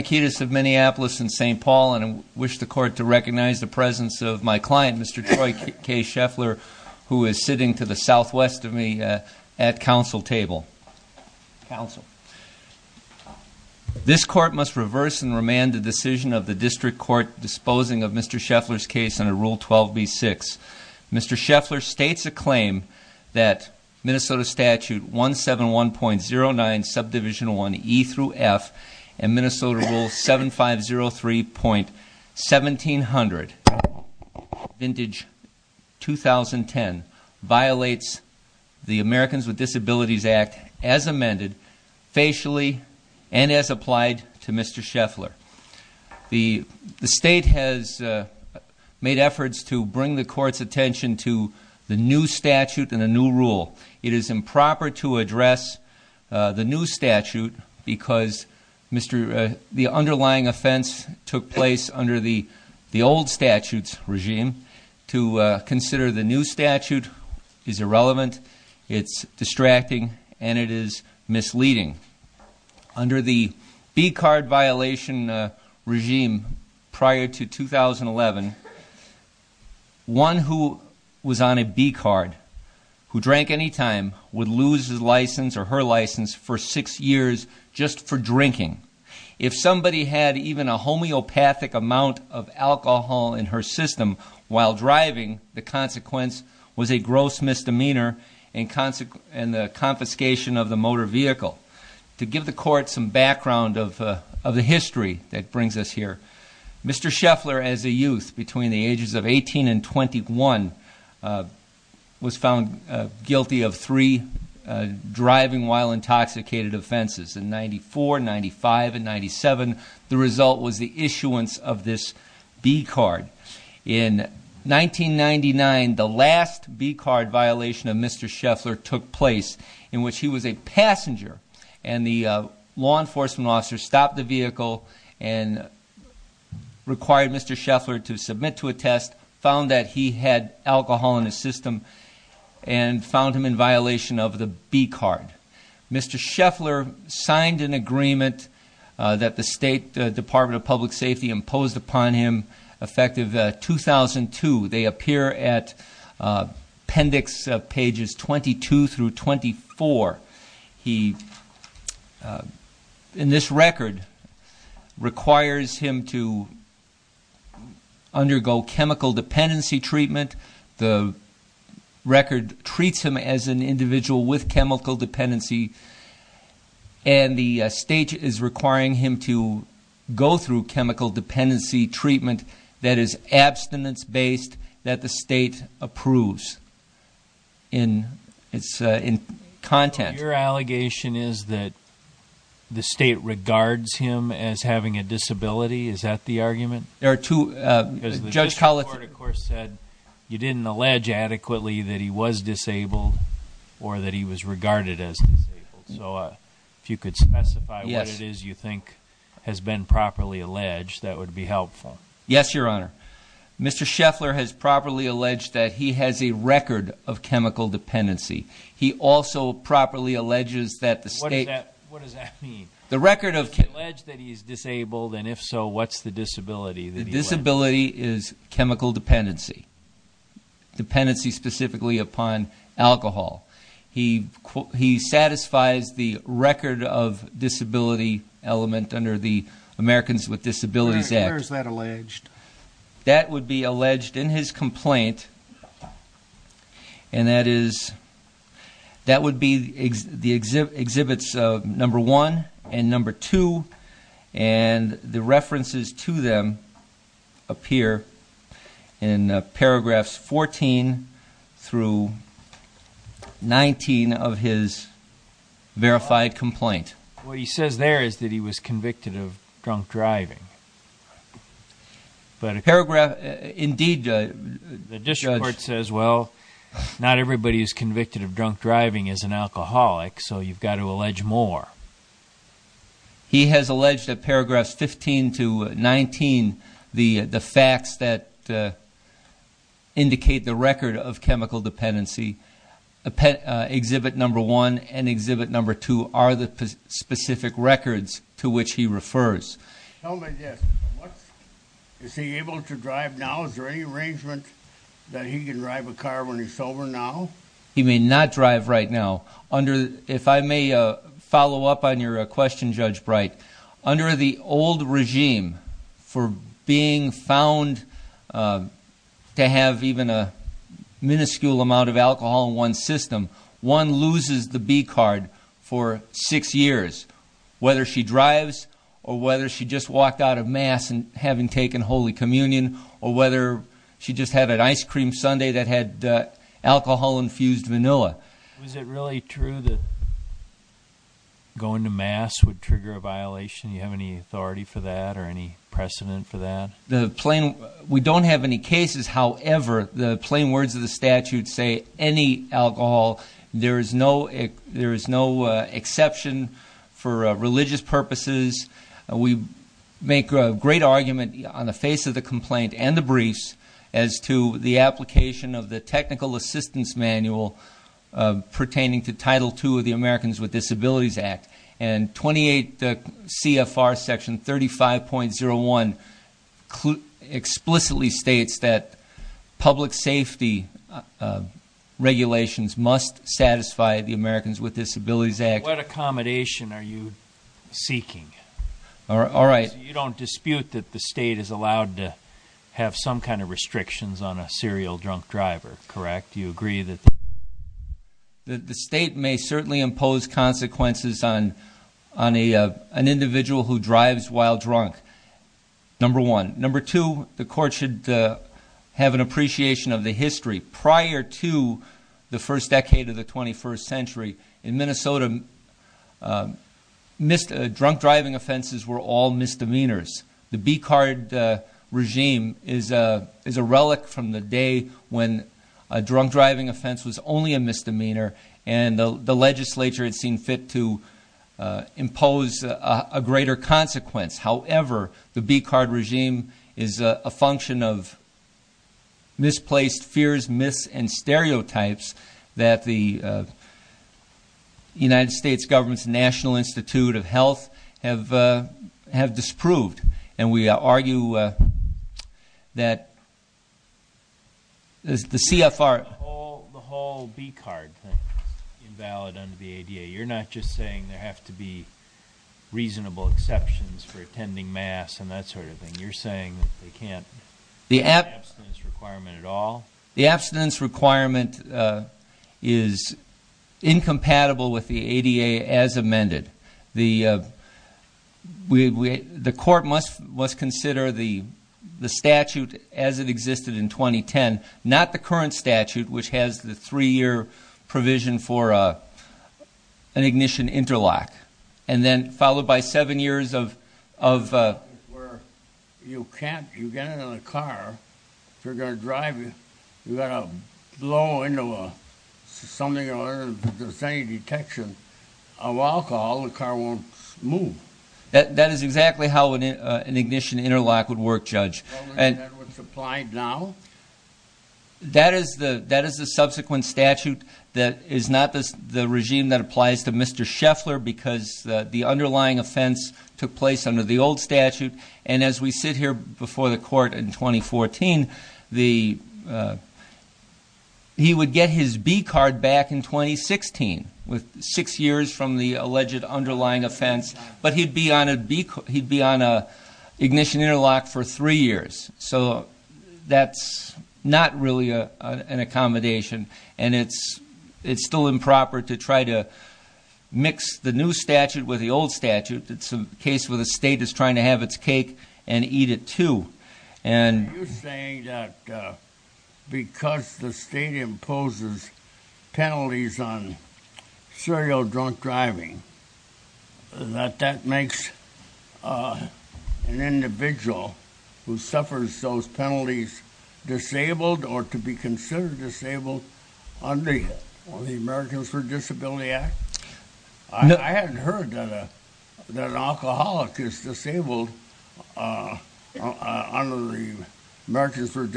I'm in St. Paul and I wish the court to recognize the presence of my client, Mr. Troy K. Scheffler, who is sitting to the southwest of me at council table. This court must reverse and remand the decision of the district court disposing of Mr. Scheffler's case under Rule 12b-6. Mr. Scheffler states a claim that Minnesota Statute 171.09 Subdivision 1E-F and Minnesota Rule 7503.1700 Vintage 2010 violates the Americans with Disabilities Act as amended facially and as applied to Mr. Scheffler. The state has made efforts to bring the court's attention to the new statute and the new rule. It is improper to address the new statute because the underlying offense took place under the old statute's regime. To consider the new statute is irrelevant, it's distracting, and it is misleading. Under the B-card violation regime prior to 2011, one who was on a B-card, who drank anytime, would lose his license or her license for six years just for drinking. If somebody had even a homeopathic amount of alcohol in her system while driving, the consequence was a gross misdemeanor and the confiscation of the motor vehicle. To give the court some background of the history that brings us here, Mr. Scheffler, as a youth between the ages of 18 and 21, was found guilty of three driving while intoxicated offenses in 94, 95, and 97. The result was the issuance of this B-card. In 1999, the last B-card violation of Mr. Scheffler took place in which he was a passenger. And the law enforcement officer stopped the vehicle and required Mr. Scheffler to submit to a test, found that he had alcohol in his system, and found him in violation of the B-card. Mr. Scheffler signed an agreement that the State Department of Public Safety imposed upon him effective 2002. They appear at appendix pages 22 through 24. He, in this record, requires him to undergo chemical dependency treatment. The record treats him as an individual with chemical dependency. And the state is requiring him to go through chemical dependency treatment that is abstinence-based, that the state approves in content. Your allegation is that the state regards him as having a disability? Is that the argument? There are two- Because the district court, of course, said you didn't allege adequately that he was disabled or that he was regarded as disabled. So if you could specify what it is you think has been properly alleged, that would be helpful. Yes, Your Honor. Mr. Scheffler has properly alleged that he has a record of chemical dependency. He also properly alleges that the state- What does that mean? The record of- He has alleged that he is disabled, and if so, what's the disability that he alleged? The disability is chemical dependency, dependency specifically upon alcohol. He satisfies the record of disability element under the Americans with Disabilities Act. Where is that alleged? That would be alleged in his complaint, and that would be the exhibits number one and number two, and the references to them appear in paragraphs 14 through 19 of his verified complaint. What he says there is that he was convicted of drunk driving. But a paragraph- Indeed, Judge- The district court says, well, not everybody who's convicted of drunk driving is an alcoholic, so you've got to allege more. He has alleged that paragraphs 15 to 19, the facts that indicate the record of chemical dependency, exhibit number one and exhibit number two are the specific records to which he refers. Tell me this, is he able to drive now? Is there any arrangement that he can drive a car when he's sober now? He may not drive right now. If I may follow up on your question, Judge Bright, under the old regime for being found to have even a minuscule amount of alcohol in one's system, one loses the B-card for six years, whether she drives or whether she just walked out of Mass and having taken Holy Communion, or whether she just had an ice cream sundae that had alcohol-infused vanilla. Was it really true that going to Mass would trigger a violation? Do you have any authority for that or any precedent for that? We don't have any cases. However, the plain words of the statute say any alcohol, there is no exception for religious purposes. We make a great argument on the face of the complaint and the briefs as to the application of the technical assistance manual pertaining to Title II of the Americans with Disabilities Act. And 28 CFR section 35.01 explicitly states that public safety regulations must satisfy the Americans with Disabilities Act. What accommodation are you seeking? You don't dispute that the state is allowed to have some kind of restrictions on a serial drunk driver, correct? Do you agree that the state may certainly impose consequences on an individual who drives while drunk, number one. Number two, the court should have an appreciation of the history. Prior to the first decade of the 21st century in Minnesota, drunk driving offenses were all misdemeanors. The B-card regime is a relic from the day when a drunk driving offense was only a misdemeanor and the legislature had seen fit to impose a greater consequence. However, the B-card regime is a function of misplaced fears, myths, and stereotypes that the United States government's National Institute of Health have disproved. And we argue that the CFR- The whole B-card thing is invalid under the ADA. You're not just saying there have to be reasonable exceptions for attending mass and that sort of thing. You're saying that they can't have an abstinence requirement at all? The abstinence requirement is incompatible with the ADA as amended. The court must consider the statute as it existed in 2010, not the current statute, which has the three-year provision for an ignition interlock. And then followed by seven years of- Where you can't- you get in a car, if you're going to drive it, you've got to blow into something or there's any detection of alcohol, the car won't move. That is exactly how an ignition interlock would work, Judge. Is that what's applied now? That is the subsequent statute that is not the regime that applies to Mr. Scheffler because the underlying offense took place under the old statute. And as we sit here before the court in 2014, he would get his B-card back in 2016, with six years from the alleged underlying offense, but he'd be on an ignition interlock for three years. So that's not really an accommodation, and it's still improper to try to mix the new statute with the old statute. It's a case where the state is trying to have its cake and eat it too. Are you saying that because the state imposes penalties on serial drunk driving, that that makes an individual who suffers those penalties disabled or to be considered disabled under the Americans with Disabilities Act? I hadn't heard that an alcoholic is disabled under the Americans with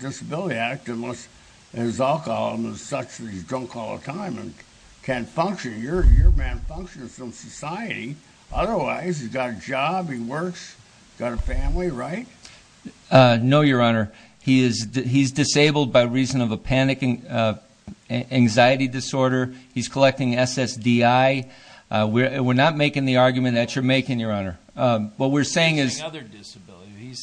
Disabilities Act unless his alcoholism is such that he's drunk all the time and can't function. Your man functions in society. Otherwise, he's got a job, he works, he's got a family, right? No, Your Honor. He's disabled by reason of a panic anxiety disorder. He's collecting SSDI. We're not making the argument that you're making, Your Honor. He's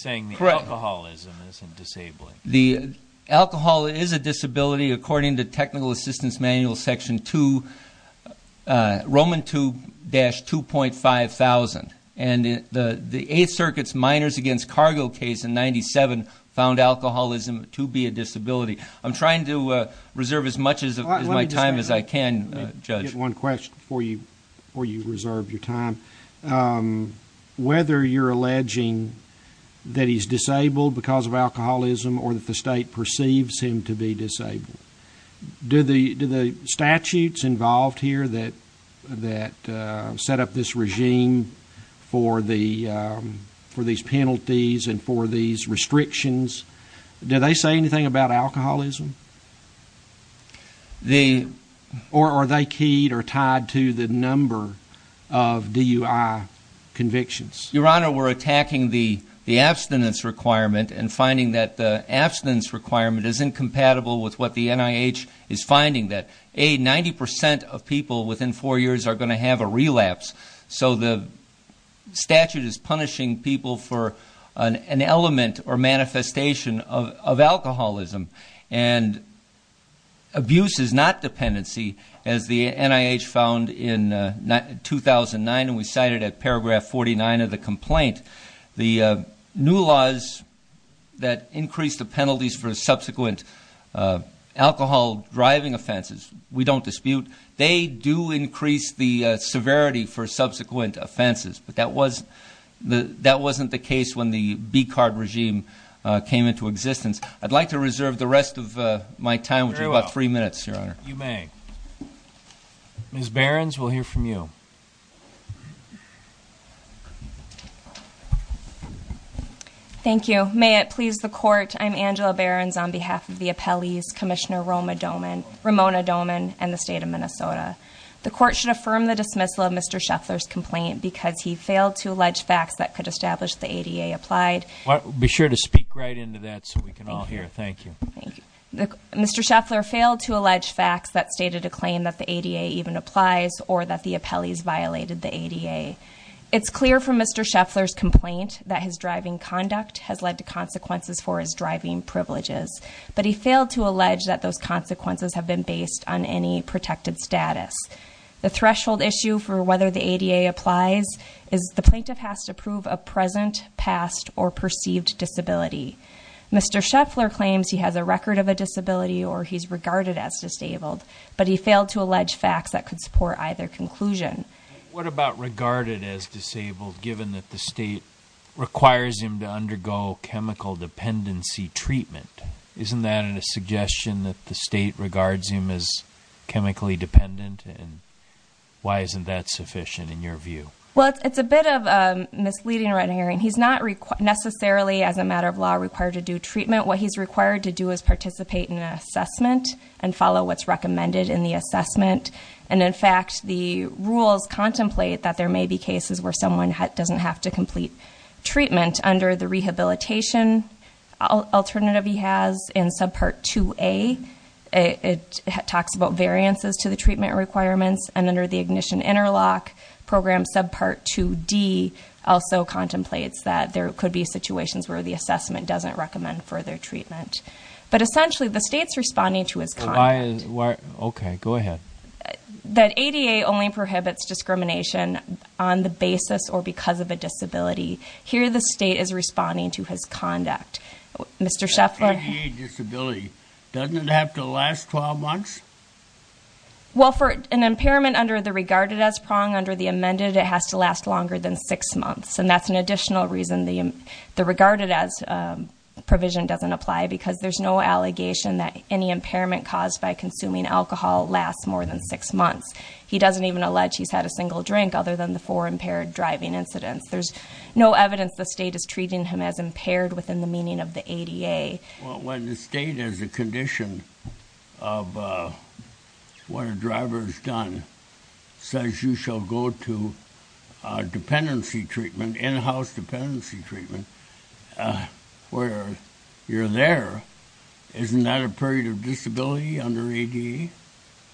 saying the alcoholism isn't disabling. The alcohol is a disability according to Technical Assistance Manual Section 2, Roman 2-2.5000, and the Eighth Circuit's Minors Against Cargo case in 1997 found alcoholism to be a disability. I'm trying to reserve as much of my time as I can, Judge. Let me just get one question before you reserve your time. Whether you're alleging that he's disabled because of alcoholism or that the state perceives him to be disabled, do the statutes involved here that set up this regime for these penalties and for these restrictions, do they say anything about alcoholism? Or are they keyed or tied to the number of DUI convictions? Your Honor, we're attacking the abstinence requirement and finding that the abstinence requirement is incompatible with what the NIH is finding, that, A, 90% of people within four years are going to have a relapse, so the statute is punishing people for an element or manifestation of alcoholism. And abuse is not dependency, as the NIH found in 2009, and we cited at paragraph 49 of the complaint. The new laws that increase the penalties for subsequent alcohol-driving offenses we don't dispute. They do increase the severity for subsequent offenses, but that wasn't the case when the BCARD regime came into existence. I'd like to reserve the rest of my time, which is about three minutes, Your Honor. You may. Ms. Behrens, we'll hear from you. Thank you. May it please the Court, I'm Angela Behrens on behalf of the appellees, Commissioner Ramona Doman and the State of Minnesota. The Court should affirm the dismissal of Mr. Scheffler's complaint because he failed to allege facts that could establish the ADA applied. Be sure to speak right into that so we can all hear. Thank you. Mr. Scheffler failed to allege facts that stated a claim that the ADA even applies, or that the appellees violated the ADA. It's clear from Mr. Scheffler's complaint that his driving conduct has led to consequences for his driving privileges, but he failed to allege that those consequences have been based on any protected status. The threshold issue for whether the ADA applies is the plaintiff has to prove a present, past, or perceived disability. Mr. Scheffler claims he has a record of a disability or he's regarded as disabled, but he failed to allege facts that could support either conclusion. What about regarded as disabled, given that the state requires him to undergo chemical dependency treatment? Isn't that a suggestion that the state regards him as chemically dependent? And why isn't that sufficient in your view? Well, it's a bit of a misleading right of hearing. He's not necessarily, as a matter of law, required to do treatment. What he's required to do is participate in an assessment and follow what's recommended in the assessment. And, in fact, the rules contemplate that there may be cases where someone doesn't have to complete treatment under the rehabilitation alternative he has in subpart 2A. It talks about variances to the treatment requirements, and under the ignition interlock program subpart 2D also contemplates that there could be situations where the assessment doesn't recommend further treatment. But, essentially, the state's responding to his comment that ADA only prohibits discrimination on the basis or because of a disability. Here, the state is responding to his conduct. Mr. Scheffler? ADA disability, doesn't it have to last 12 months? Well, for an impairment under the regarded as prong, under the amended, it has to last longer than six months. And that's an additional reason the regarded as provision doesn't apply, because there's no allegation that any impairment caused by consuming alcohol lasts more than six months. He doesn't even allege he's had a single drink, other than the four impaired driving incidents. There's no evidence the state is treating him as impaired within the meaning of the ADA. Well, when the state has a condition of what a driver's done, says you shall go to dependency treatment, in-house dependency treatment, where you're there, isn't that a period of disability under ADA?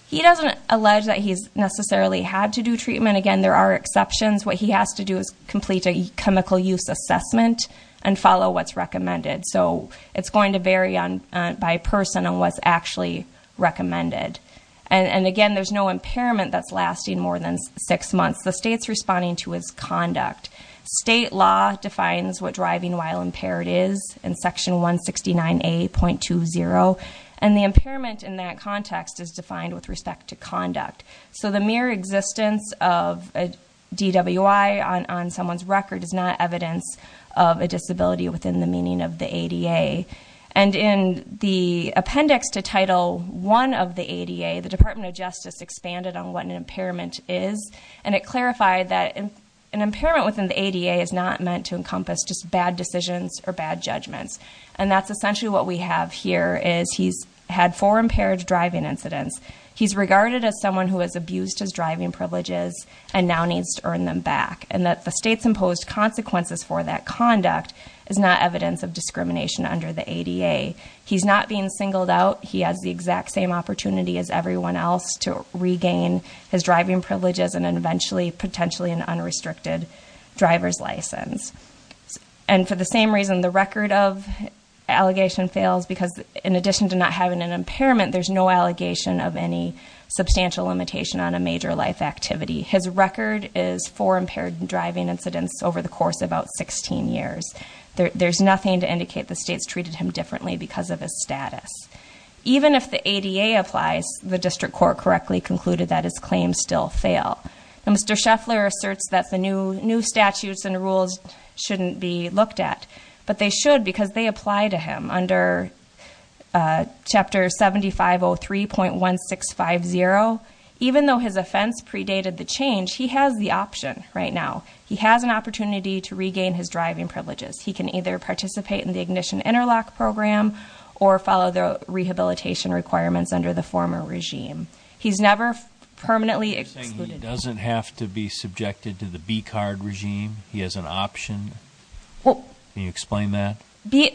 He doesn't allege that he's necessarily had to do treatment. Again, there are exceptions. What he has to do is complete a chemical use assessment and follow what's recommended. So it's going to vary by person on what's actually recommended. And, again, there's no impairment that's lasting more than six months. The state's responding to his conduct. State law defines what driving while impaired is in Section 169A.20, and the impairment in that context is defined with respect to conduct. So the mere existence of a DWI on someone's record is not evidence of a disability within the meaning of the ADA. And in the appendix to Title I of the ADA, the Department of Justice expanded on what an impairment is, and it clarified that an impairment within the ADA is not meant to encompass just bad decisions or bad judgments. And that's essentially what we have here, is he's had four impaired driving incidents. He's regarded as someone who has abused his driving privileges and now needs to earn them back. And that the state's imposed consequences for that conduct is not evidence of discrimination under the ADA. He's not being singled out. He has the exact same opportunity as everyone else to regain his driving privileges and eventually potentially an unrestricted driver's license. And for the same reason the record of allegation fails, because in addition to not having an impairment, there's no allegation of any substantial limitation on a major life activity. His record is four impaired driving incidents over the course of about 16 years. There's nothing to indicate the state's treated him differently because of his status. Even if the ADA applies, the district court correctly concluded that his claims still fail. And Mr. Scheffler asserts that the new statutes and rules shouldn't be looked at, but they should because they apply to him under chapter 7503.1650. Even though his offense predated the change, he has the option right now. He has an opportunity to regain his driving privileges. He can either participate in the ignition interlock program or follow the rehabilitation requirements under the former regime. He's never permanently excluded. He doesn't have to be subjected to the B card regime? He has an option? Can you explain that?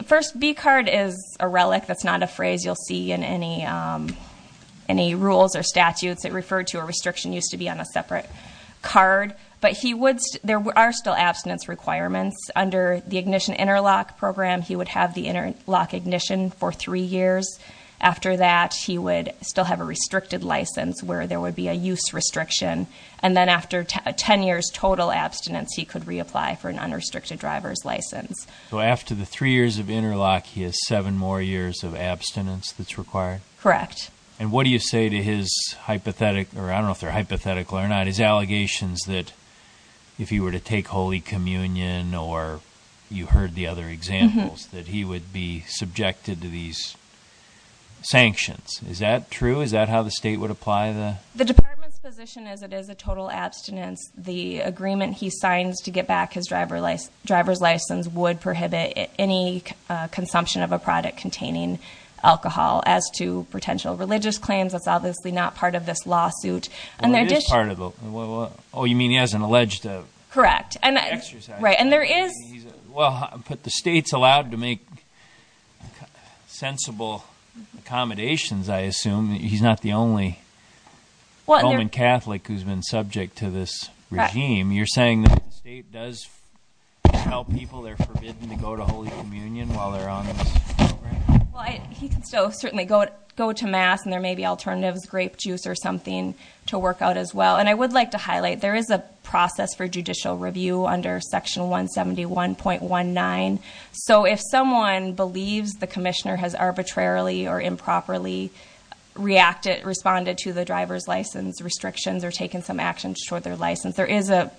First, B card is a relic. That's not a phrase you'll see in any rules or statutes that refer to a restriction used to be on a separate card. But there are still abstinence requirements. Under the ignition interlock program, he would have the interlock ignition for three years. After that, he would still have a restricted license where there would be a use restriction. And then after 10 years total abstinence, he could reapply for an unrestricted driver's license. So after the three years of interlock, he has seven more years of abstinence that's required? Correct. And what do you say to his hypothetical, or I don't know if they're hypothetical or not, his allegations that if he were to take Holy Communion or you heard the other examples, that he would be subjected to these sanctions. Is that true? Is that how the state would apply the- The department's position is it is a total abstinence. The agreement he signs to get back his driver's license would prohibit any consumption of a product containing alcohol. As to potential religious claims, that's obviously not part of this lawsuit. Well, it is part of it. Oh, you mean he hasn't alleged to- Correct. Right. And there is- Well, but the state's allowed to make sensible accommodations, I assume. He's not the only Roman Catholic who's been subject to this regime. You're saying the state does tell people they're forbidden to go to Holy Communion while they're on this program? Well, he can still certainly go to Mass and there may be alternatives, grape juice or something, to work out as well. And I would like to highlight there is a process for judicial review under Section 171.19. So if someone believes the commissioner has arbitrarily or improperly reacted, responded to the driver's license restrictions or taken some action to short their license, there is a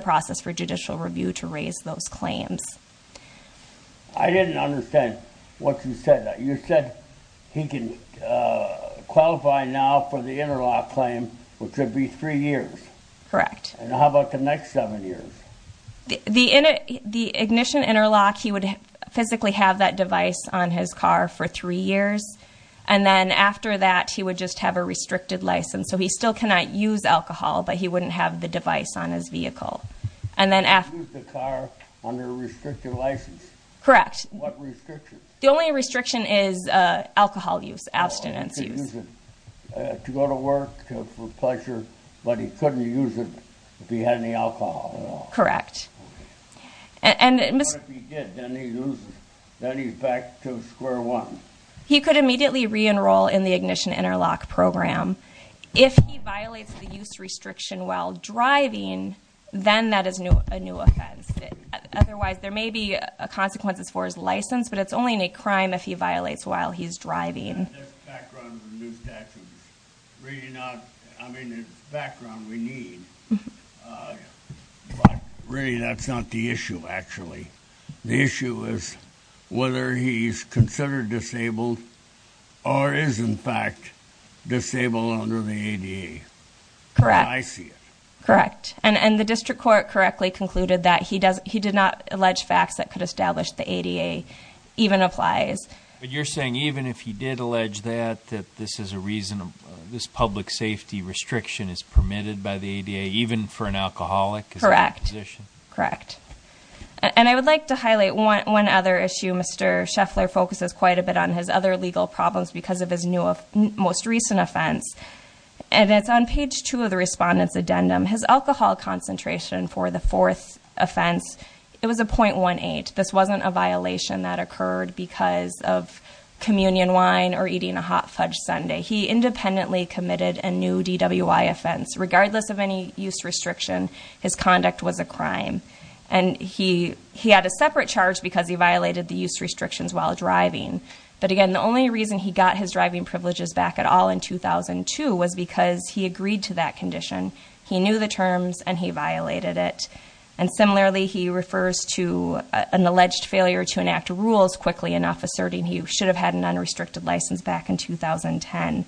process for judicial review to raise those claims. I didn't understand what you said. You said he can qualify now for the interlock claim, which would be three years. Correct. And how about the next seven years? The ignition interlock, he would physically have that device on his car for three years. And then after that, he would just have a restricted license. So he still cannot use alcohol, but he wouldn't have the device on his vehicle. He could use the car under a restricted license. Correct. What restriction? The only restriction is alcohol use, abstinence use. Oh, he could use it to go to work for pleasure, but he couldn't use it if he had any alcohol at all. Correct. What if he did? Then he loses. Then he's back to square one. He could immediately re-enroll in the ignition interlock program. If he violates the use restriction while driving, then that is a new offense. Otherwise, there may be consequences for his license, but it's only a crime if he violates while he's driving. That's the background for new statutes. Really not, I mean, the background we need. But really, that's not the issue, actually. The issue is whether he's considered disabled or is, in fact, disabled under the ADA. Correct. I see it. Correct. And the district court correctly concluded that he did not allege facts that could establish the ADA even applies. But you're saying even if he did allege that, that this is a reason, this public safety restriction is permitted by the ADA, even for an alcoholic? Correct. Correct. And I would like to highlight one other issue. Mr. Scheffler focuses quite a bit on his other legal problems because of his most recent offense. And it's on page two of the respondent's addendum. His alcohol concentration for the fourth offense, it was a .18. This wasn't a violation that occurred because of communion wine or eating a hot fudge sundae. He independently committed a new DWI offense. Regardless of any use restriction, his conduct was a crime. And he had a separate charge because he violated the use restrictions while driving. But again, the only reason he got his driving privileges back at all in 2002 was because he agreed to that condition. He knew the terms, and he violated it. And similarly, he refers to an alleged failure to enact rules quickly enough, asserting he should have had an unrestricted license back in 2010.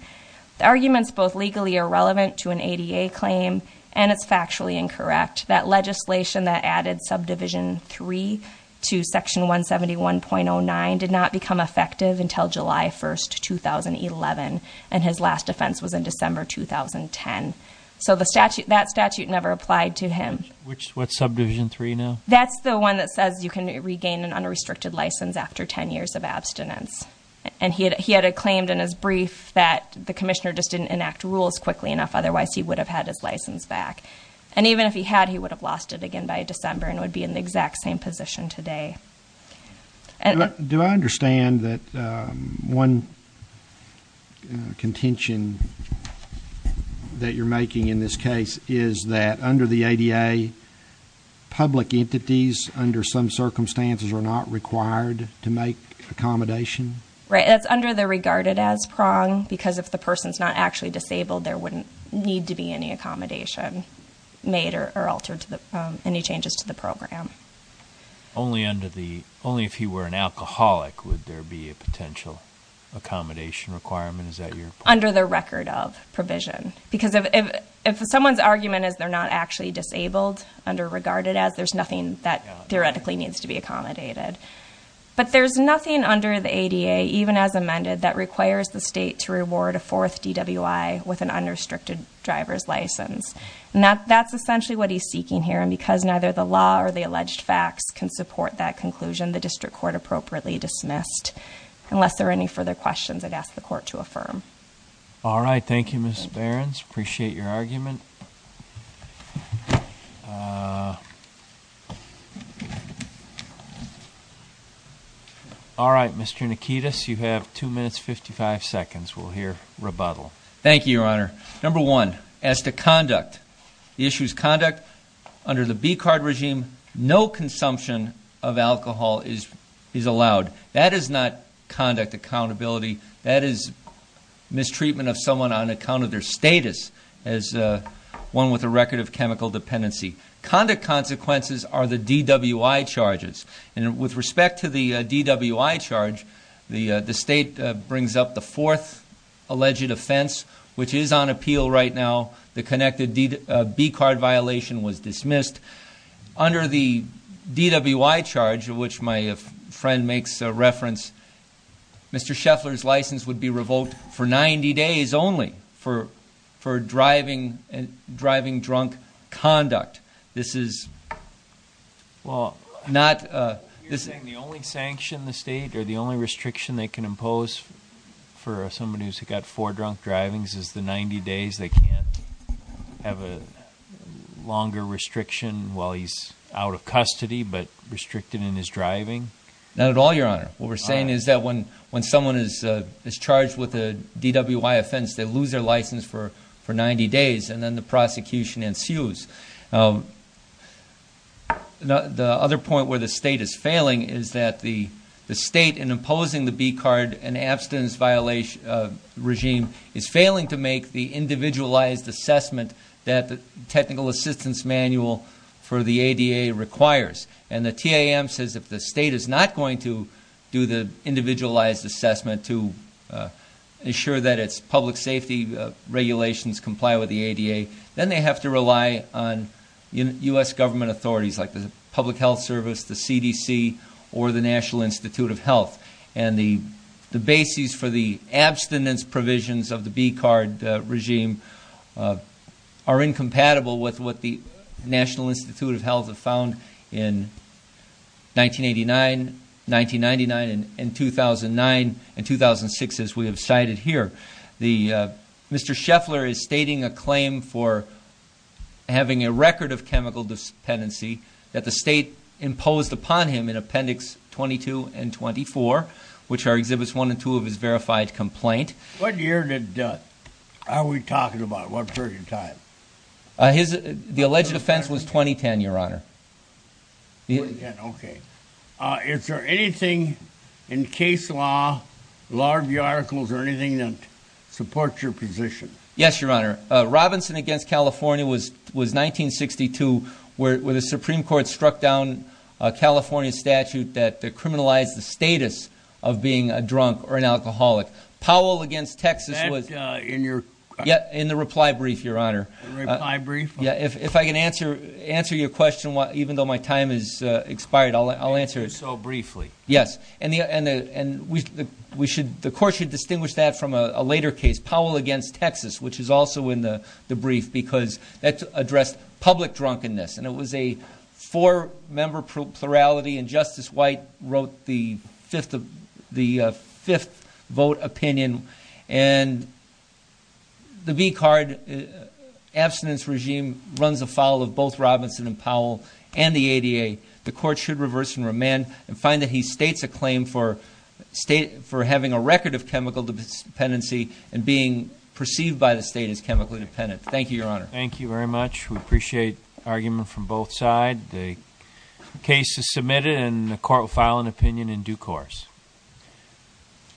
The argument's both legally irrelevant to an ADA claim, and it's factually incorrect. That legislation that added Subdivision 3 to Section 171.09 did not become effective until July 1, 2011. And his last offense was in December 2010. So that statute never applied to him. What's Subdivision 3 now? That's the one that says you can regain an unrestricted license after 10 years of abstinence. And he had claimed in his brief that the commissioner just didn't enact rules quickly enough. Otherwise, he would have had his license back. And even if he had, he would have lost it again by December and would be in the exact same position today. Do I understand that one contention that you're making in this case is that under the ADA, public entities under some circumstances are not required to make accommodation? Right. That's under the regarded as prong, because if the person's not actually disabled, there wouldn't need to be any accommodation made or altered, any changes to the program. Only if he were an alcoholic would there be a potential accommodation requirement? Is that your point? Under the record of provision. Because if someone's argument is they're not actually disabled under regarded as, there's nothing that theoretically needs to be accommodated. But there's nothing under the ADA, even as amended, that requires the state to reward a fourth DWI with an unrestricted driver's license. And that's essentially what he's seeking here. And because neither the law or the alleged facts can support that conclusion, the district court appropriately dismissed. Unless there are any further questions, I'd ask the court to affirm. All right. Thank you, Ms. Behrens. Appreciate your argument. All right. Mr. Nikitas, you have two minutes, 55 seconds. We'll hear rebuttal. Thank you, Your Honor. Number one, as to conduct. The issue is conduct. Under the BCARD regime, no consumption of alcohol is allowed. That is not conduct accountability. That is mistreatment of someone on account of their status as one with a record of chemical dependency. Conduct consequences are the DWI charges. And with respect to the DWI charge, the state brings up the fourth alleged offense, which is on appeal right now. The connected BCARD violation was dismissed. Under the DWI charge, of which my friend makes reference, Mr. Scheffler's license would be revoked for 90 days only for driving drunk conduct. This is not- You're saying the only sanction the state or the only restriction they can impose for somebody who's got four drunk drivings is the 90 days? They can't have a longer restriction while he's out of custody, but restricted in his driving? Not at all, Your Honor. What we're saying is that when someone is charged with a DWI offense, they lose their license for 90 days, and then the prosecution ensues. The other point where the state is failing is that the state, in imposing the BCARD and abstinence violation regime, is failing to make the individualized assessment that the technical assistance manual for the ADA requires. And the TAM says if the state is not going to do the individualized assessment to ensure that its public safety regulations comply with the ADA, then they have to rely on U.S. government authorities like the Public Health Service, the CDC, or the National Institute of Health. And the bases for the abstinence provisions of the BCARD regime are incompatible with what the National Institute of Health found in 1989, 1999, and 2009 and 2006, as we have cited here. Mr. Scheffler is stating a claim for having a record of chemical dependency that the state imposed upon him in Appendix 22 and 24, which are Exhibits 1 and 2 of his verified complaint. What year are we talking about? What period of time? The alleged offense was 2010, Your Honor. 2010, okay. Is there anything in case law, law review articles, or anything that supports your position? Yes, Your Honor. Robinson against California was 1962, where the Supreme Court struck down a California statute that criminalized the status of being a drunk or an alcoholic. Powell against Texas was... That's in your... Yeah, in the reply brief, Your Honor. The reply brief? Yeah, if I can answer your question, even though my time has expired, I'll answer it. So briefly. Yes. And the court should distinguish that from a later case, Powell against Texas, which is also in the brief, because that addressed public drunkenness. And it was a four-member plurality, and Justice White wrote the fifth vote opinion. And the B card, abstinence regime, runs afoul of both Robinson and Powell and the ADA. The court should reverse and remand and find that he states a claim for having a record of chemical dependency and being perceived by the state as chemically dependent. Thank you, Your Honor. Thank you very much. We appreciate argument from both sides. The case is submitted, and the court will file an opinion in due course.